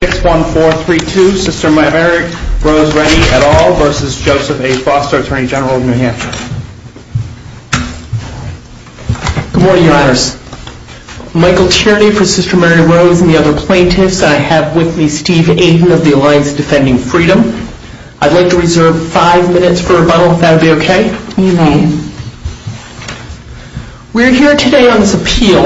Good morning, your honors. Michael Tierney for Sister Mary Rose and the other plaintiffs. I have with me Steve Aiden of the Alliance Defending Freedom. I'd like to reserve five minutes for rebuttal, if that would be okay? Evening. We're here today on this appeal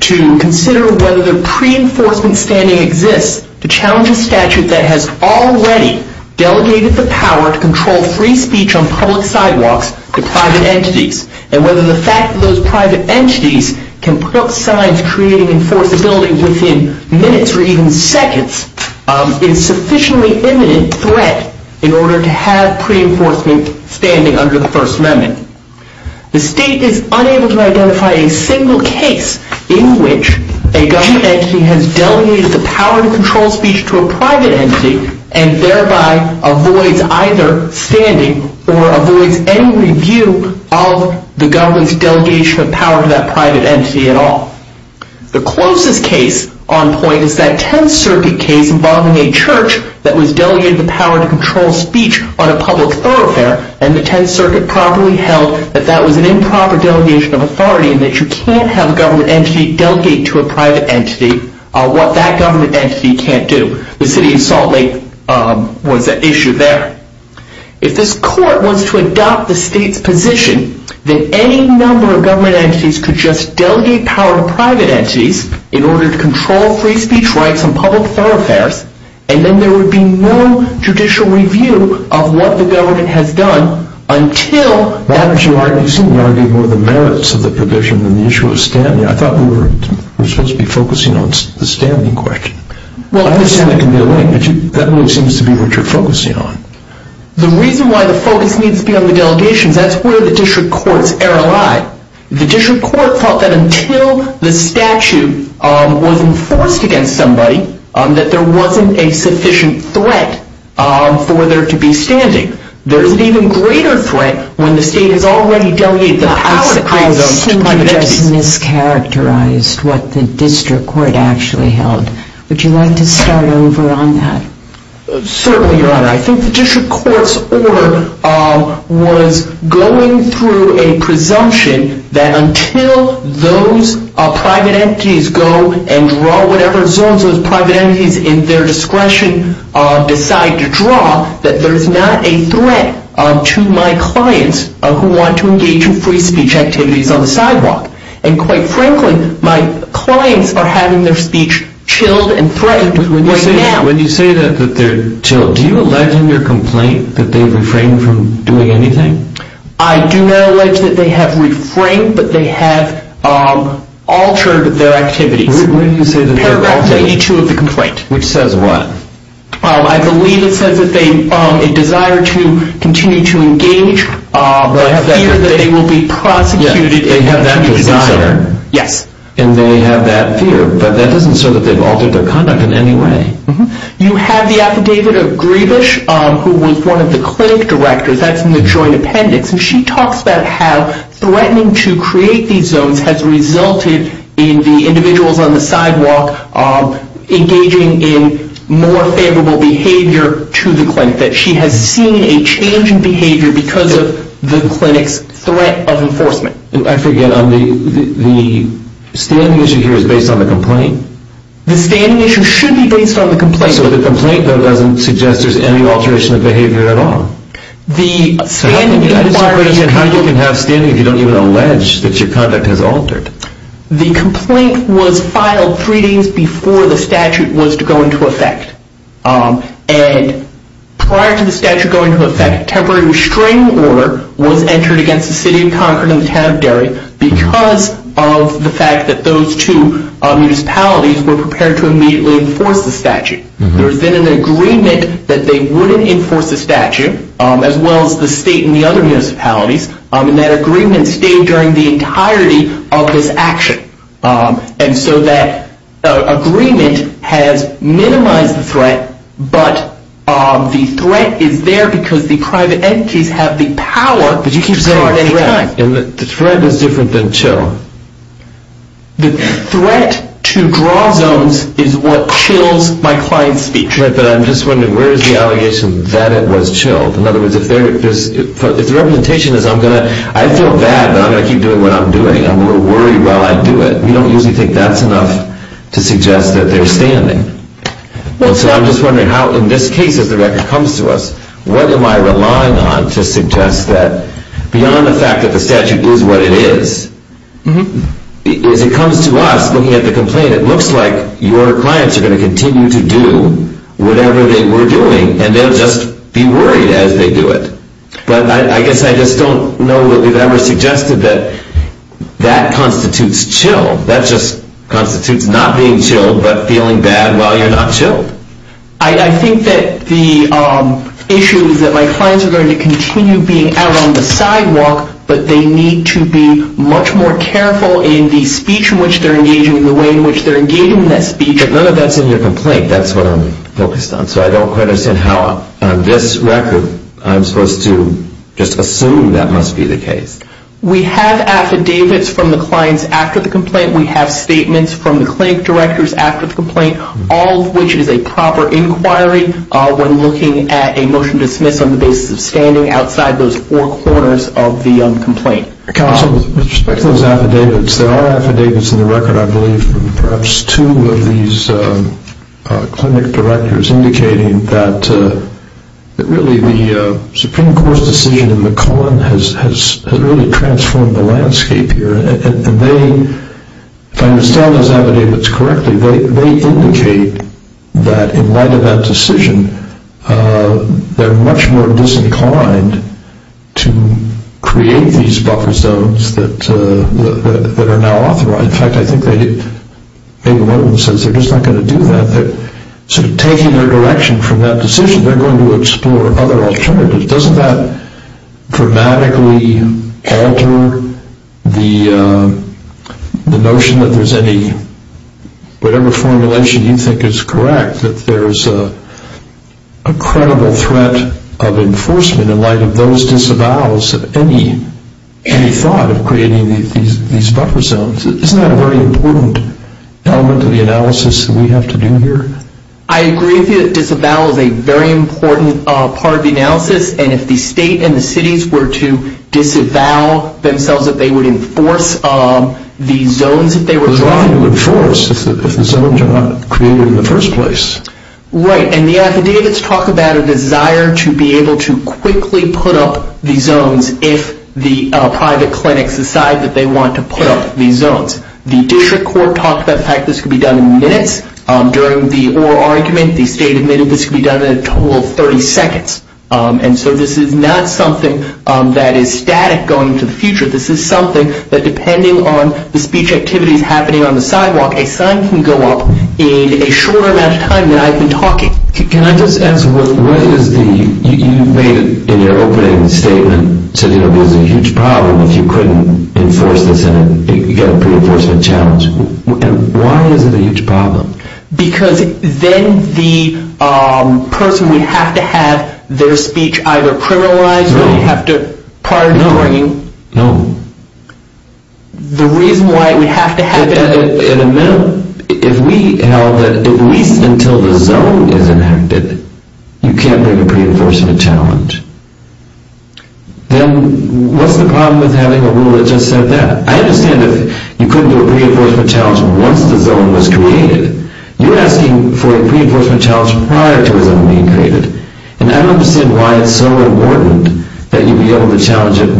to consider whether the pre-enforcement standing exists to challenge a statute that has already delegated the power to control free speech on public sidewalks to private entities, and whether the fact that those private entities can put up signs creating enforceability within minutes or even seconds is sufficiently imminent threat in order to have pre-enforcement standing under the First Amendment. The state is unable to identify a single case in which a government entity has delegated the power to control speech to a private entity and thereby avoids either standing or avoids any review of the government's delegation of power to that private entity at all. The closest case on point is that Tenth Circuit case involving a church that was delegated the power to control speech on a public thoroughfare, and the Tenth Circuit properly held that that was an improper delegation of authority and that you can't have a government entity delegate to a private entity what that government entity can't do. The city of Salt Lake was at issue there. If this court was to adopt the state's position that any number of government entities could just delegate power to private entities in order to control free speech rights on public thoroughfares, and then there would be no judicial review of what the government has done until... Why don't you argue more of the merits of the provision than the issue of standing? I thought we were supposed to be focusing on the standing question. I understand that can be a link, but that really seems to be what you're focusing on. The reason why the focus needs to be on the delegations, that's where the district courts err a lot. The district court thought that until the statute was enforced against somebody, that there wasn't a sufficient threat for there to be standing. There is an even greater threat when the state has already delegated the power of a prison to private entities. I seem to have just mischaracterized what the district court actually held. Would you like to start over on that? Certainly, Your Honor. I think the district court's order was going through a presumption that until those private entities go and draw whatever zones those private entities in their discretion decide to draw, that there's not a threat to my clients who want to engage in free speech activities on the sidewalk. Quite frankly, my clients are having their speech chilled and threatened right now. When you say that they're chilled, do you allege in your complaint that they've refrained from doing anything? I do not allege that they have refrained, but they have altered their activities. Where do you say that they've altered? Paragraph 82 of the complaint. Which says what? I believe it says that they desire to continue to engage, but fear that they will be prosecuted if they desire. They have that desire. Yes. And they have that fear, but that doesn't show that they've altered their conduct in any way. You have the affidavit of Griebusch, who was one of the clinic directors. That's in the joint appendix. And she talks about how threatening to create these zones has resulted in the individuals on the sidewalk engaging in more favorable behavior to the clinic. That she has seen a change in behavior because of the clinic's threat of enforcement. I forget. The standing issue here is based on the complaint. The standing issue should be based on the complaint. So the complaint, though, doesn't suggest there's any alteration of behavior at all? So how can you have standing if you don't even allege that your conduct has altered? The complaint was filed three days before the statute was to go into effect. And prior to the statute going into effect, temporary restraining order was entered against the city of Concord and the town of Derry because of the fact that those two municipalities were prepared to immediately enforce the statute. There was then an agreement that they wouldn't enforce the statute, as well as the state and the other municipalities. And that agreement stayed during the entirety of this action. And so that agreement has minimized the threat, but the threat is there because the private The threat is different than chill. The threat to draw zones is what chills my client's speech. But I'm just wondering, where is the allegation that it was chilled? In other words, if the representation is, I feel bad, but I'm going to keep doing what I'm doing. I'm a little worried while I do it. We don't usually think that's enough to suggest that they're standing. So I'm just wondering how, in this case, as the record comes to us, what am I relying on to suggest that beyond the fact that the statute is what it is, as it comes to us looking at the complaint, it looks like your clients are going to continue to do whatever they were doing and they'll just be worried as they do it. But I guess I just don't know that we've ever suggested that that constitutes chill. That just constitutes not being chilled but feeling bad while you're not chilled. I think that the issue is that my clients are going to continue being out on the sidewalk, but they need to be much more careful in the speech in which they're engaging, the way in which they're engaging in that speech. But none of that's in your complaint. That's what I'm focused on. So I don't quite understand how, on this record, I'm supposed to just assume that must be the case. We have affidavits from the clients after the complaint. We have statements from the clinic directors after the complaint, all of which is a proper inquiry when looking at a motion to dismiss on the basis of standing outside those four corners of the complaint. Counsel, with respect to those affidavits, there are affidavits in the record, I believe, from perhaps two of these clinic directors indicating that really the Supreme Court's decision in McClellan has really transformed the landscape here. If I understand those affidavits correctly, they indicate that in light of that decision, they're much more disinclined to create these buffer zones that are now authorized. In fact, I think maybe one of them says they're just not going to do that. They're sort of taking their direction from that decision. They're going to explore other alternatives. Doesn't that dramatically alter the notion that there's any, whatever formulation you think is correct, that there's a credible threat of enforcement in light of those disavowals of any thought of creating these buffer zones? Isn't that a very important element of the analysis that we have to do here? I agree with you that disavowal is a very important part of the analysis, and if the state and the cities were to disavow themselves, that they would enforce the zones that they were trying to enforce, if the zones are not created in the first place. Right, and the affidavits talk about a desire to be able to quickly put up the zones if the private clinics decide that they want to put up these zones. The district court talked about the fact that this could be done in minutes. During the oral argument, the state admitted this could be done in a total of 30 seconds. And so this is not something that is static going into the future. This is something that, depending on the speech activities happening on the sidewalk, a sign can go up in a shorter amount of time than I've been talking. Can I just ask, what is the, you made it in your opening statement, said, you know, there's a huge problem if you couldn't enforce this in it, you get a pre-enforcement challenge. Why is it a huge problem? Because then the person would have to have their speech either criminalized or they'd have to pardon the bringing. No, no. The reason why we have to have it in a... In a minute, if we held that at least until the zone is enacted, you can't bring a pre-enforcement challenge. Then what's the problem with having a rule that just said that? I understand that you couldn't do a pre-enforcement challenge once the zone was created. You're asking for a pre-enforcement challenge prior to a zone being created. And I don't understand why it's so important that you be able to challenge it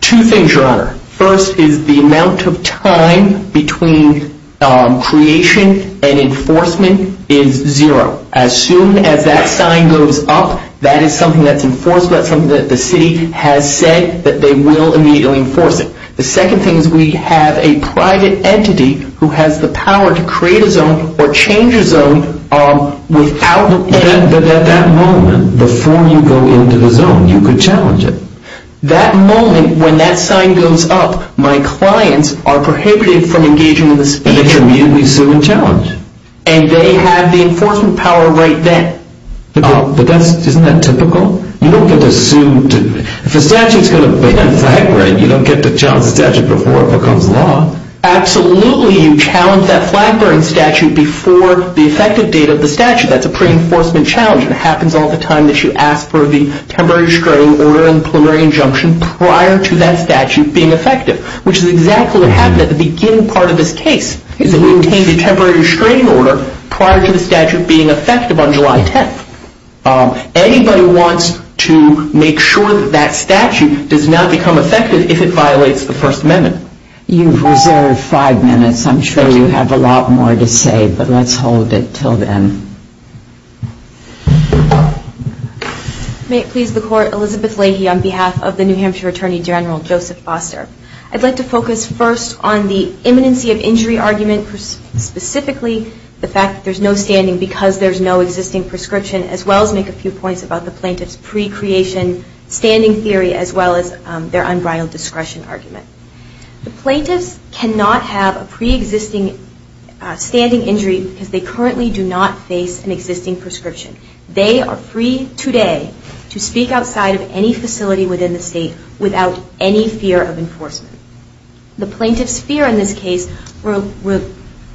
Two things, Your Honor. First is the amount of time between creation and enforcement is zero. As soon as that sign goes up, that is something that's enforced. That's something that the city has said that they will immediately enforce it. The second thing is we have a private entity who has the power to create a zone or change a zone without... But at that moment, before you go into the zone, you could challenge it. That moment, when that sign goes up, my clients are prohibited from engaging in the speech. And they should immediately sue and challenge. And they have the enforcement power right then. But isn't that typical? You don't get to sue... If a statute is going to ban flag bearing, you don't get to challenge the statute before it becomes law. Absolutely, you challenge that flag bearing statute before the effective date of the statute. That's a pre-enforcement challenge. It happens all the time that you ask for the temporary restraining order and preliminary injunction prior to that statute being effective. Which is exactly what happened at the beginning part of this case. We obtained the temporary restraining order prior to the statute being effective on July 10th. Anybody wants to make sure that that statute does not become effective if it violates the First Amendment. You've reserved five minutes. I'm sure you have a lot more to say, but let's hold it until then. May it please the Court. Elizabeth Lahey on behalf of the New Hampshire Attorney General, Joseph Foster. I'd like to focus first on the imminency of injury argument. Specifically, the fact that there's no standing because there's no existing prescription. As well as make a few points about the plaintiff's pre-creation standing theory as well as their unbridled discretion argument. The plaintiffs cannot have a pre-existing standing injury because they currently do not face an existing prescription. They are free today to speak outside of any facility within the state without any fear of enforcement. The plaintiff's fear in this case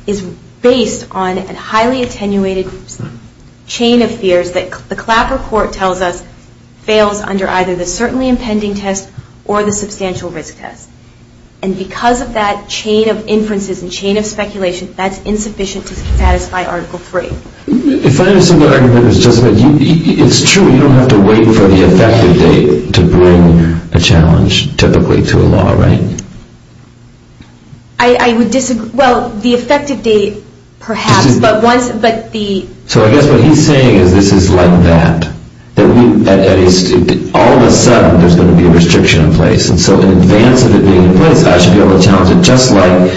is based on a highly attenuated chain of fears that the Clapper Court tells us fails under either the certainly impending test or the substantial risk test. And because of that chain of inferences and chain of speculation, that's insufficient to satisfy Article III. If I understand your argument, it's true. You don't have to wait for the effective date to bring a challenge typically to a law, right? I would disagree. Well, the effective date perhaps, but once the... So I guess what he's saying is this is like that. All of a sudden, there's going to be a restriction in place. And so in advance of it being in place, I should be able to challenge it. Just like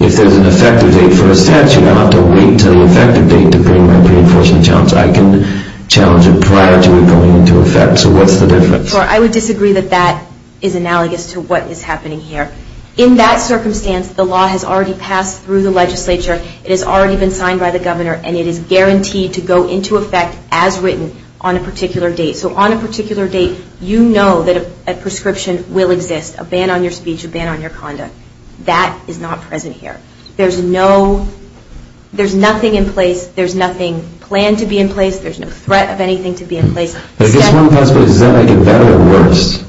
if there's an effective date for a statute, I don't have to wait until the effective date to bring my pre-enforcement challenge. I can challenge it prior to it going into effect. So what's the difference? I would disagree that that is analogous to what is happening here. In that circumstance, the law has already passed through the legislature. It has already been signed by the governor, and it is guaranteed to go into effect as written on a particular date. So on a particular date, you know that a prescription will exist, a ban on your speech, a ban on your conduct. That is not present here. There's no... There's nothing in place. There's nothing planned to be in place. There's no threat of anything to be in place. Is this one possible? Is that like a better or worse?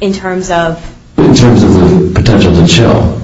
In terms of... In terms of the potential to chill.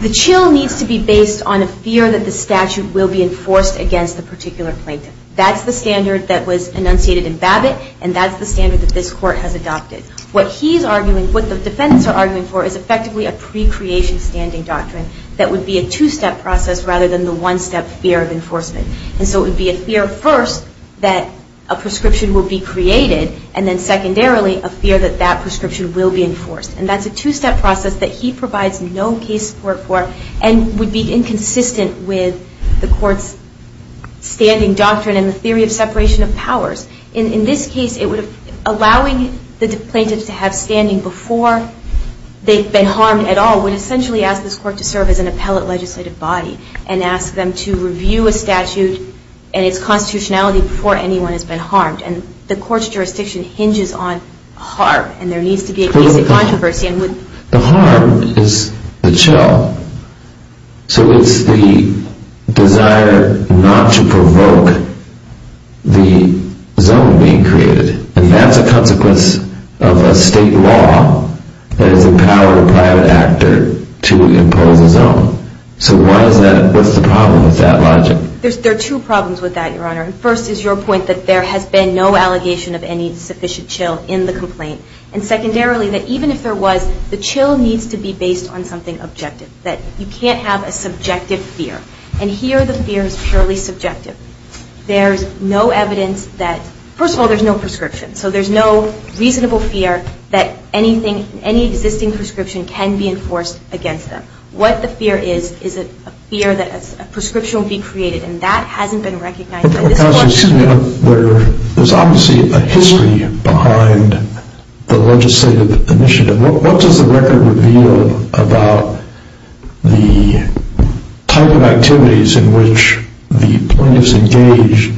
The chill needs to be based on a fear that the statute will be enforced against the particular plaintiff. That's the standard that was enunciated in Babbitt, and that's the standard that this Court has adopted. What he's arguing... What the defendants are arguing for is effectively a pre-creation standing doctrine that would be a two-step process rather than the one-step fear of enforcement. And so it would be a fear, first, that a prescription will be created, and then, secondarily, a fear that that prescription will be enforced. And that's a two-step process that he provides no case support for and would be inconsistent with the Court's standing doctrine and the theory of separation of powers. In this case, allowing the plaintiff to have standing before they've been harmed at all would essentially ask this Court to serve as an appellate legislative body and ask them to review a statute and its constitutionality before anyone has been harmed. And the Court's jurisdiction hinges on harm, and there needs to be a case of controversy. The harm is the chill. So it's the desire not to provoke the zone being created, and that's a consequence of a state law that has empowered a private actor to impose a zone. So what's the problem with that logic? There are two problems with that, Your Honor. First is your point that there has been no allegation of any sufficient chill in the complaint, and, secondarily, that even if there was, the chill needs to be based on something objective, that you can't have a subjective fear. And here the fear is purely subjective. There's no evidence that – first of all, there's no prescription. So there's no reasonable fear that anything, any existing prescription can be enforced against them. What the fear is is a fear that a prescription will be created, and that hasn't been recognized by this Court. There's obviously a history behind the legislative initiative. What does the record reveal about the type of activities in which the plaintiffs engage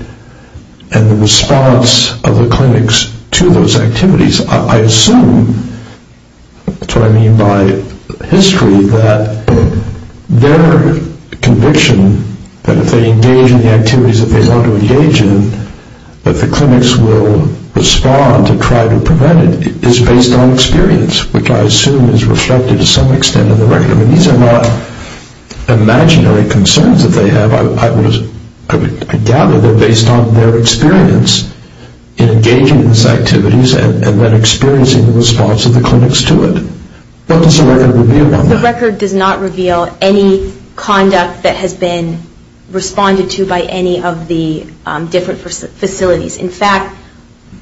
and the response of the clinics to those activities? I assume – that's what I mean by history – that their conviction that if they engage in the activities that they want to engage in, that the clinics will respond to try to prevent it is based on experience, which I assume is reflected to some extent in the record. I mean, these are not imaginary concerns that they have. I gather they're based on their experience in engaging in these activities and then experiencing the response of the clinics to it. What does the record reveal on that? It doesn't reveal any conduct that has been responded to by any of the different facilities. In fact,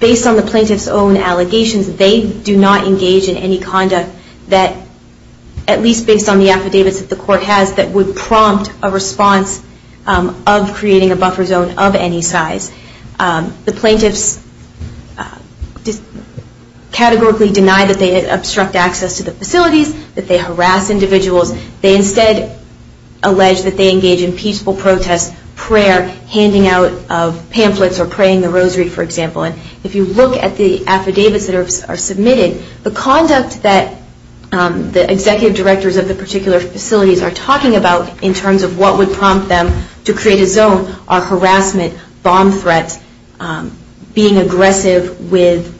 based on the plaintiff's own allegations, they do not engage in any conduct that – at least based on the affidavits that the Court has – that would prompt a response of creating a buffer zone of any size. The plaintiffs categorically deny that they obstruct access to the facilities, that they harass individuals. They instead allege that they engage in peaceful protest prayer, handing out pamphlets or praying the rosary, for example. If you look at the affidavits that are submitted, the conduct that the executive directors of the particular facilities are talking about in terms of what would prompt them to create a zone are harassment, bomb threats, being aggressive with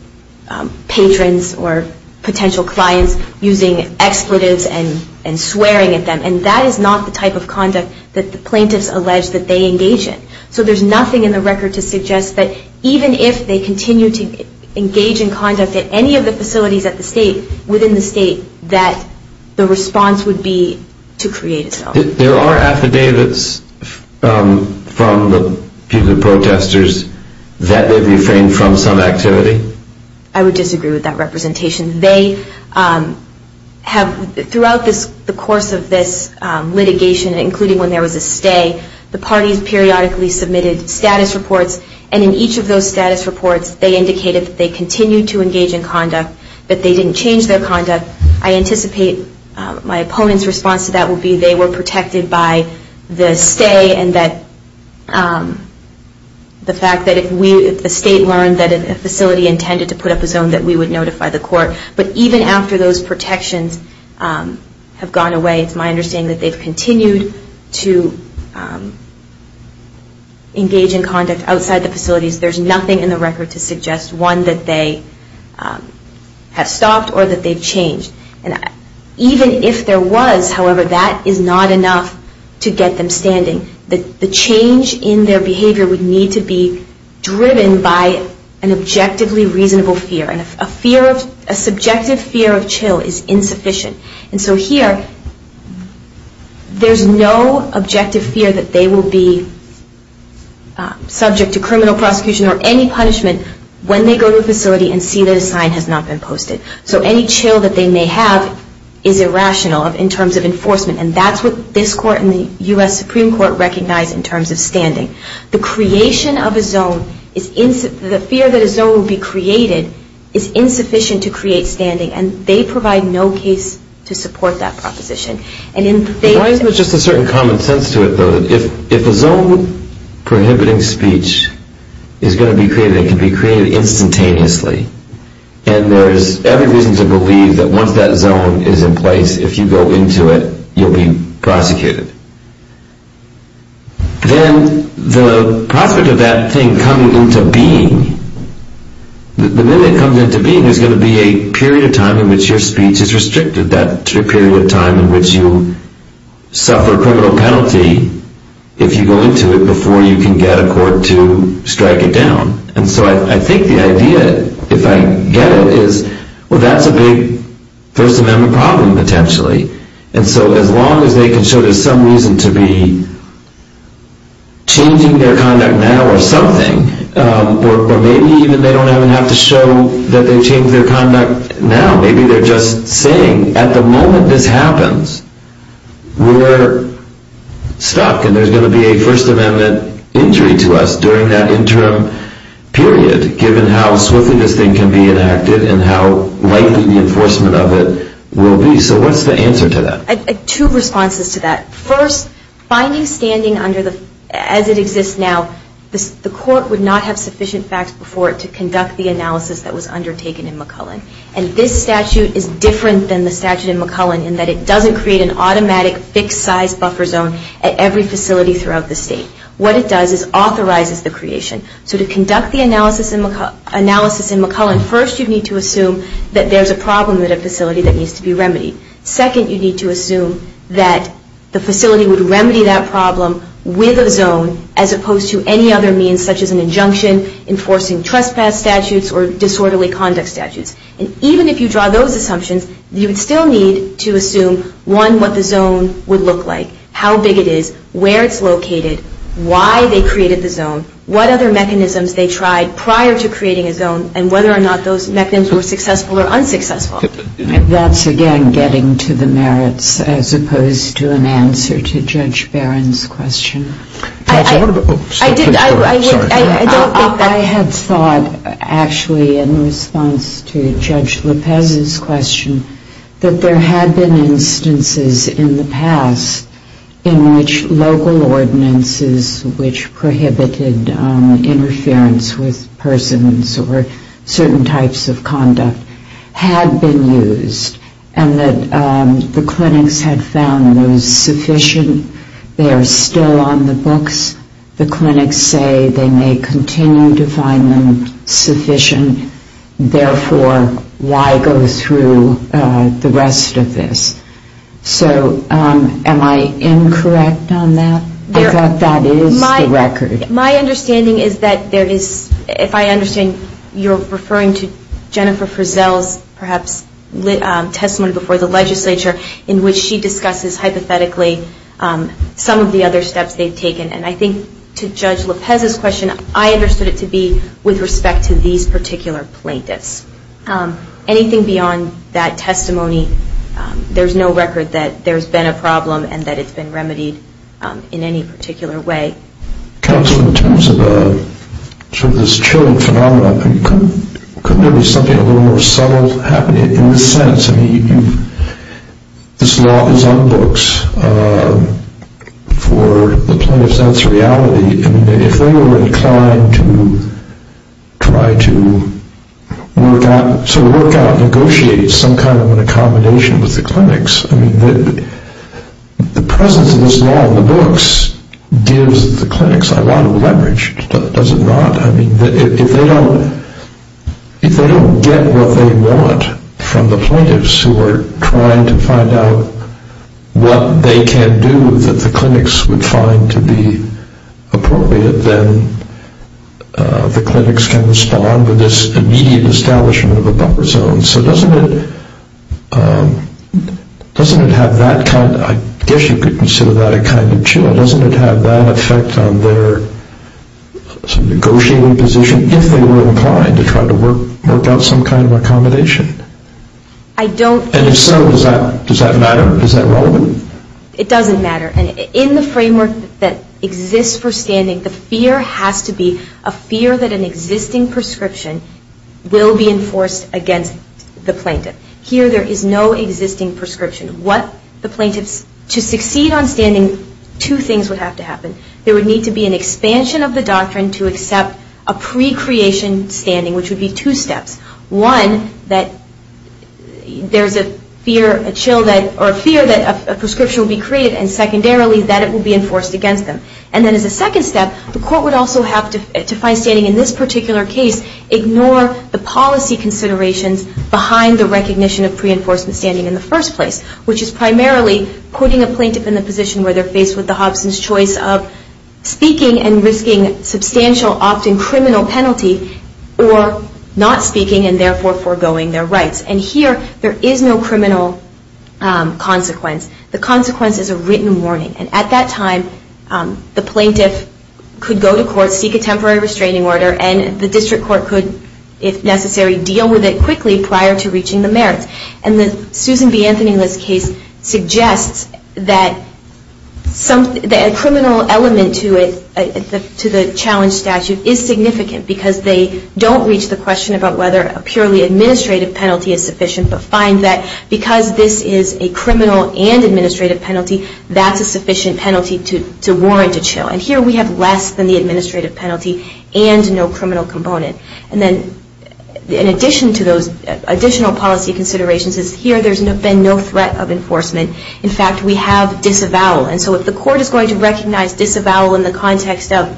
patrons or potential clients, using expletives and swearing at them. And that is not the type of conduct that the plaintiffs allege that they engage in. So there's nothing in the record to suggest that even if they continue to engage in conduct at any of the facilities at the State, within the State, that the response would be to create a zone. There are affidavits from the protesters that they've refrained from some activity? I would disagree with that representation. They have – throughout the course of this litigation, including when there was a stay, the parties periodically submitted status reports. And in each of those status reports, they indicated that they continued to engage in conduct, that they didn't change their conduct. But I anticipate my opponent's response to that would be they were protected by the stay and the fact that if the State learned that a facility intended to put up a zone, that we would notify the court. But even after those protections have gone away, it's my understanding that they've continued to engage in conduct outside the facilities. There's nothing in the record to suggest, one, that they have stopped or that they've changed. And even if there was, however, that is not enough to get them standing. The change in their behavior would need to be driven by an objectively reasonable fear. And a fear of – a subjective fear of chill is insufficient. And so here, there's no objective fear that they will be subject to criminal prosecution or any punishment when they go to a facility and see that a sign has not been posted. So any chill that they may have is irrational in terms of enforcement. And that's what this court and the U.S. Supreme Court recognize in terms of standing. The creation of a zone is – the fear that a zone will be created is insufficient to create standing. And they provide no case to support that proposition. And in – Why isn't there just a certain common sense to it, though, that if a zone prohibiting speech is going to be created, it can be created instantaneously. And there's every reason to believe that once that zone is in place, if you go into it, you'll be prosecuted. Then the prospect of that thing coming into being, the minute it comes into being, there's going to be a period of time in which your speech is restricted, that period of time in which you suffer a criminal penalty if you go into it before you can get a court to strike it down. And so I think the idea, if I get it, is, well, that's a big First Amendment problem, potentially. And so as long as they can show there's some reason to be changing their conduct now or something, or maybe even they don't even have to show that they've changed their conduct now. Maybe they're just saying, at the moment this happens, we're stuck and there's going to be a First Amendment injury to us during that interim period, given how swiftly this thing can be enacted and how likely the enforcement of it will be. So what's the answer to that? Two responses to that. First, finding standing as it exists now, the court would not have sufficient facts before it to conduct the analysis that was undertaken in McClellan. And this statute is different than the statute in McClellan in that it doesn't create an automatic fixed size buffer zone at every facility throughout the state. What it does is authorizes the creation. So to conduct the analysis in McClellan, first you need to assume that there's a problem at a facility that needs to be remedied. Second, you need to assume that the facility would remedy that problem with a zone as opposed to any other means such as an injunction, enforcing trespass statutes, or disorderly conduct statutes. And even if you draw those assumptions, you would still need to assume, one, what the zone would look like, how big it is, where it's located, why they created the zone, what other mechanisms they tried prior to creating a zone, and whether or not those mechanisms were successful or unsuccessful. That's, again, getting to the merits as opposed to an answer to Judge Barron's question. I had thought, actually, in response to Judge Lopez's question, that there had been instances in the past in which local ordinances which prohibited interference with persons or certain types of conduct had been used and that the clinics had found it was sufficient. They are still on the books. The clinics say they may continue to find them sufficient. Therefore, why go through the rest of this? So am I incorrect on that? I thought that is the record. My understanding is that there is, if I understand, you're referring to Jennifer Frizzell's perhaps testimony before the legislature in which she discusses hypothetically some of the other steps they've taken. And I think to Judge Lopez's question, I understood it to be with respect to these particular plaintiffs. Anything beyond that testimony, there's no record that there's been a problem and that it's been remedied in any particular way. Counsel, in terms of sort of this chilling phenomenon, couldn't there be something a little more subtle happening in this sense? I mean, this law is on books for the plaintiffs. That's reality. I mean, if they were inclined to try to sort of work out and negotiate some kind of an accommodation with the clinics, I mean, the presence of this law on the books gives the clinics a lot of leverage. Does it not? I mean, if they don't get what they want from the plaintiffs who are trying to find out what they can do that the clinics would find to be appropriate, then the clinics can respond with this immediate establishment of a buffer zone. So doesn't it have that kind of, I guess you could consider that a kind of chill. Doesn't it have that effect on their negotiating position if they were inclined to try to work out some kind of accommodation? And if so, does that matter? Is that relevant? It doesn't matter. And in the framework that exists for standing, the fear has to be a fear that an existing prescription will be enforced against the plaintiff. Here there is no existing prescription. To succeed on standing, two things would have to happen. There would need to be an expansion of the doctrine to accept a pre-creation standing, which would be two steps. One, that there's a fear that a prescription will be created, and secondarily, that it will be enforced against them. And then as a second step, the court would also have to find standing in this particular case, ignore the policy considerations behind the recognition of pre-enforcement standing in the first place, which is primarily putting a plaintiff in the position where they're faced with the Hobson's choice of speaking and risking substantial, often criminal penalty, or not speaking and therefore foregoing their rights. And here there is no criminal consequence. The consequence is a written warning. And at that time, the plaintiff could go to court, seek a temporary restraining order, and the district court could, if necessary, deal with it quickly prior to reaching the merits. And the Susan B. Anthony List case suggests that a criminal element to the challenge statute is significant because they don't reach the question about whether a purely administrative penalty is sufficient, but find that because this is a criminal and administrative penalty, that's a sufficient penalty to warrant a chill. And here we have less than the administrative penalty and no criminal component. And then in addition to those additional policy considerations is here there's been no threat of enforcement. In fact, we have disavowal. And so if the court is going to recognize disavowal in the context of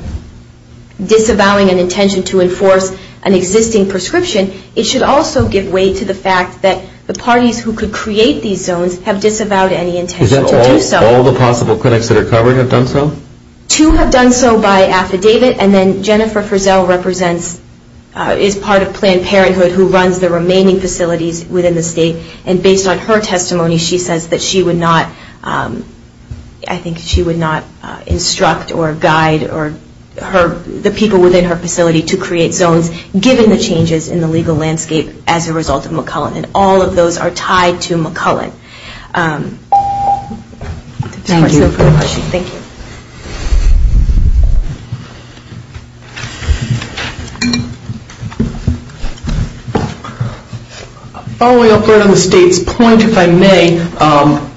disavowing an intention to enforce an existing prescription, it should also give way to the fact that the parties who could create these zones have disavowed any intention to do so. Is that all the possible clinics that are covered have done so? Two have done so by affidavit. And then Jennifer Frizzell represents, is part of Planned Parenthood, who runs the remaining facilities within the state. And based on her testimony, she says that she would not, I think she would not instruct or guide the people within her facility to create zones given the changes in the legal landscape as a result of McCullen. And all of those are tied to McCullen. Thank you. Following up on the state's point, if I may,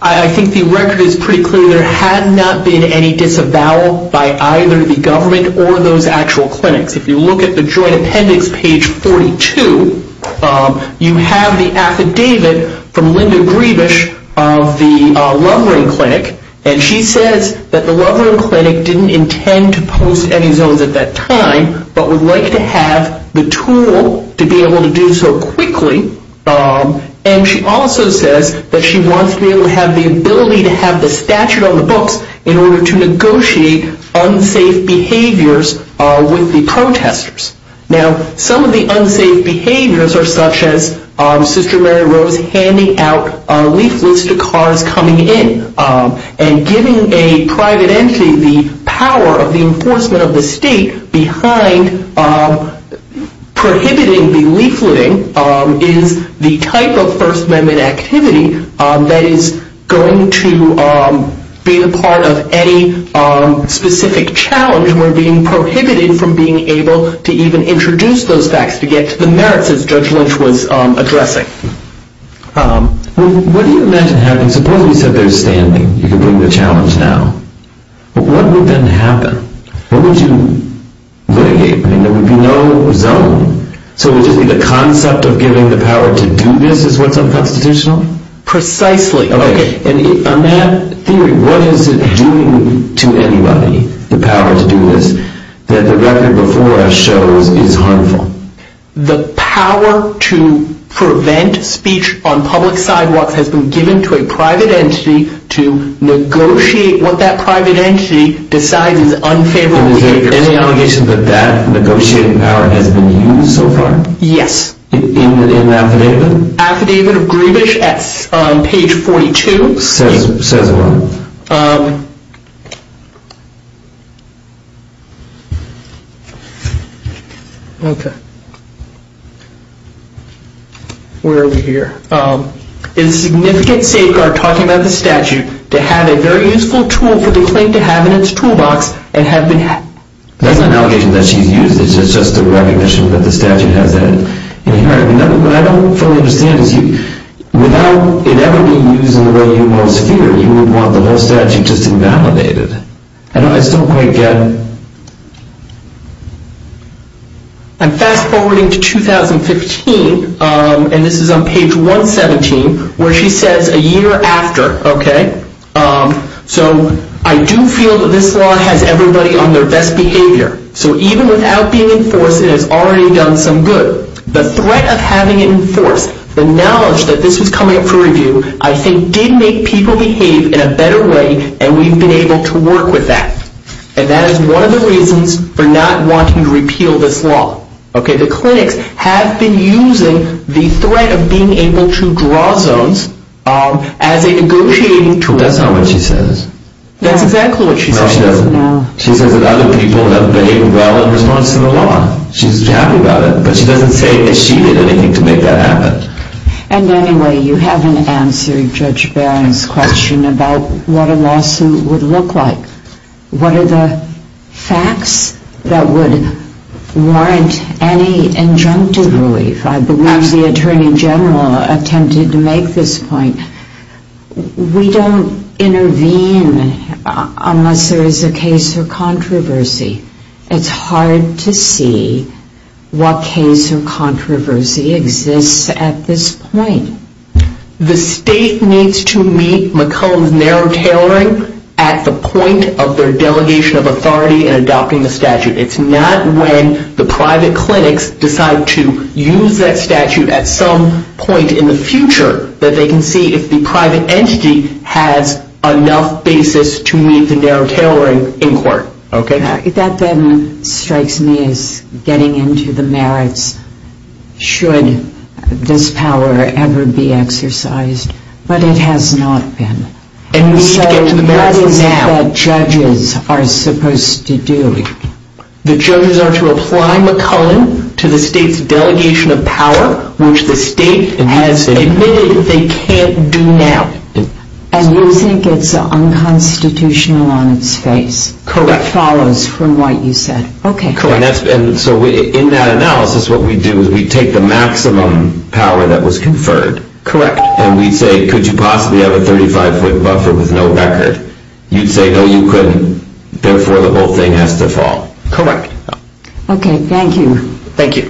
I think the record is pretty clear there had not been any disavowal by either the government or those actual clinics. If you look at the joint appendix, page 42, you have the affidavit from Linda Grebisch of the Lovering Clinic. And she says that the Lovering Clinic didn't intend to post any zones at that time, but would like to have the tool to be able to do so quickly. And she also says that she wants to be able to have the ability to have the statute on the books in order to negotiate unsafe behaviors with the protesters. Now, some of the unsafe behaviors are such as Sister Mary Rose handing out leaflets to cars coming in and giving a private entity the power of the enforcement of the state behind prohibiting the leafleting is the type of First Amendment activity that is going to be a part of any specific challenge where being prohibited from being able to even introduce those facts to get to the merits, as Judge Lynch was addressing. What do you imagine happening? Suppose you said there's standing, you can bring the challenge now. What would then happen? What would you mitigate? I mean, there would be no zone. So would you say the concept of giving the power to do this is what's unconstitutional? Precisely. Okay. And on that theory, what is it doing to anybody, the power to do this, that the record before us shows is harmful? The power to prevent speech on public sidewalks has been given to a private entity to negotiate what that private entity decides is unfavorable behavior. Is there any allegation that that negotiating power has been used so far? Yes. In the affidavit? Affidavit of Grievous on page 42. Says what? Okay. Where are we here? In significant safeguard, talking about the statute, to have a very useful tool for the claim to have in its toolbox and have been. That's not an allegation that she's used. It's just a recognition that the statute has that in here. What I don't fully understand is without it ever being used in the way you most fear, you would want the whole statute just invalidated. I still can't get. I'm fast-forwarding to 2015, and this is on page 117, where she says, a year after, okay, so I do feel that this law has everybody on their best behavior. So even without being enforced, it has already done some good. The threat of having it enforced, the knowledge that this was coming up for review, I think did make people behave in a better way, and we've been able to work with that. And that is one of the reasons for not wanting to repeal this law. Okay? The clinics have been using the threat of being able to draw zones as a negotiating tool. That's not what she says. That's exactly what she says. No, she doesn't. She says that other people have behaved well in response to the law. She's happy about it, but she doesn't say that she did anything to make that happen. And anyway, you haven't answered Judge Barron's question about what a lawsuit would look like. What are the facts that would warrant any injunctive relief? I believe the Attorney General attempted to make this point. We don't intervene unless there is a case or controversy. It's hard to see what case or controversy exists at this point. The state needs to meet McClellan's narrow tailoring at the point of their delegation of authority in adopting the statute. It's not when the private clinics decide to use that statute at some point in the future that they can see if the private entity has enough basis to meet the narrow tailoring in court. That then strikes me as getting into the merits. Should this power ever be exercised? But it has not been. So what is it that judges are supposed to do? The judges are to apply McClellan to the state's delegation of power, which the state has admitted they can't do now. And you think it's unconstitutional on its face? Correct. It follows from what you said. So in that analysis, what we do is we take the maximum power that was conferred. Correct. And we say, could you possibly have a 35-foot buffer with no record? You'd say, no, you couldn't. Therefore, the whole thing has to fall. Correct. Okay, thank you. Thank you.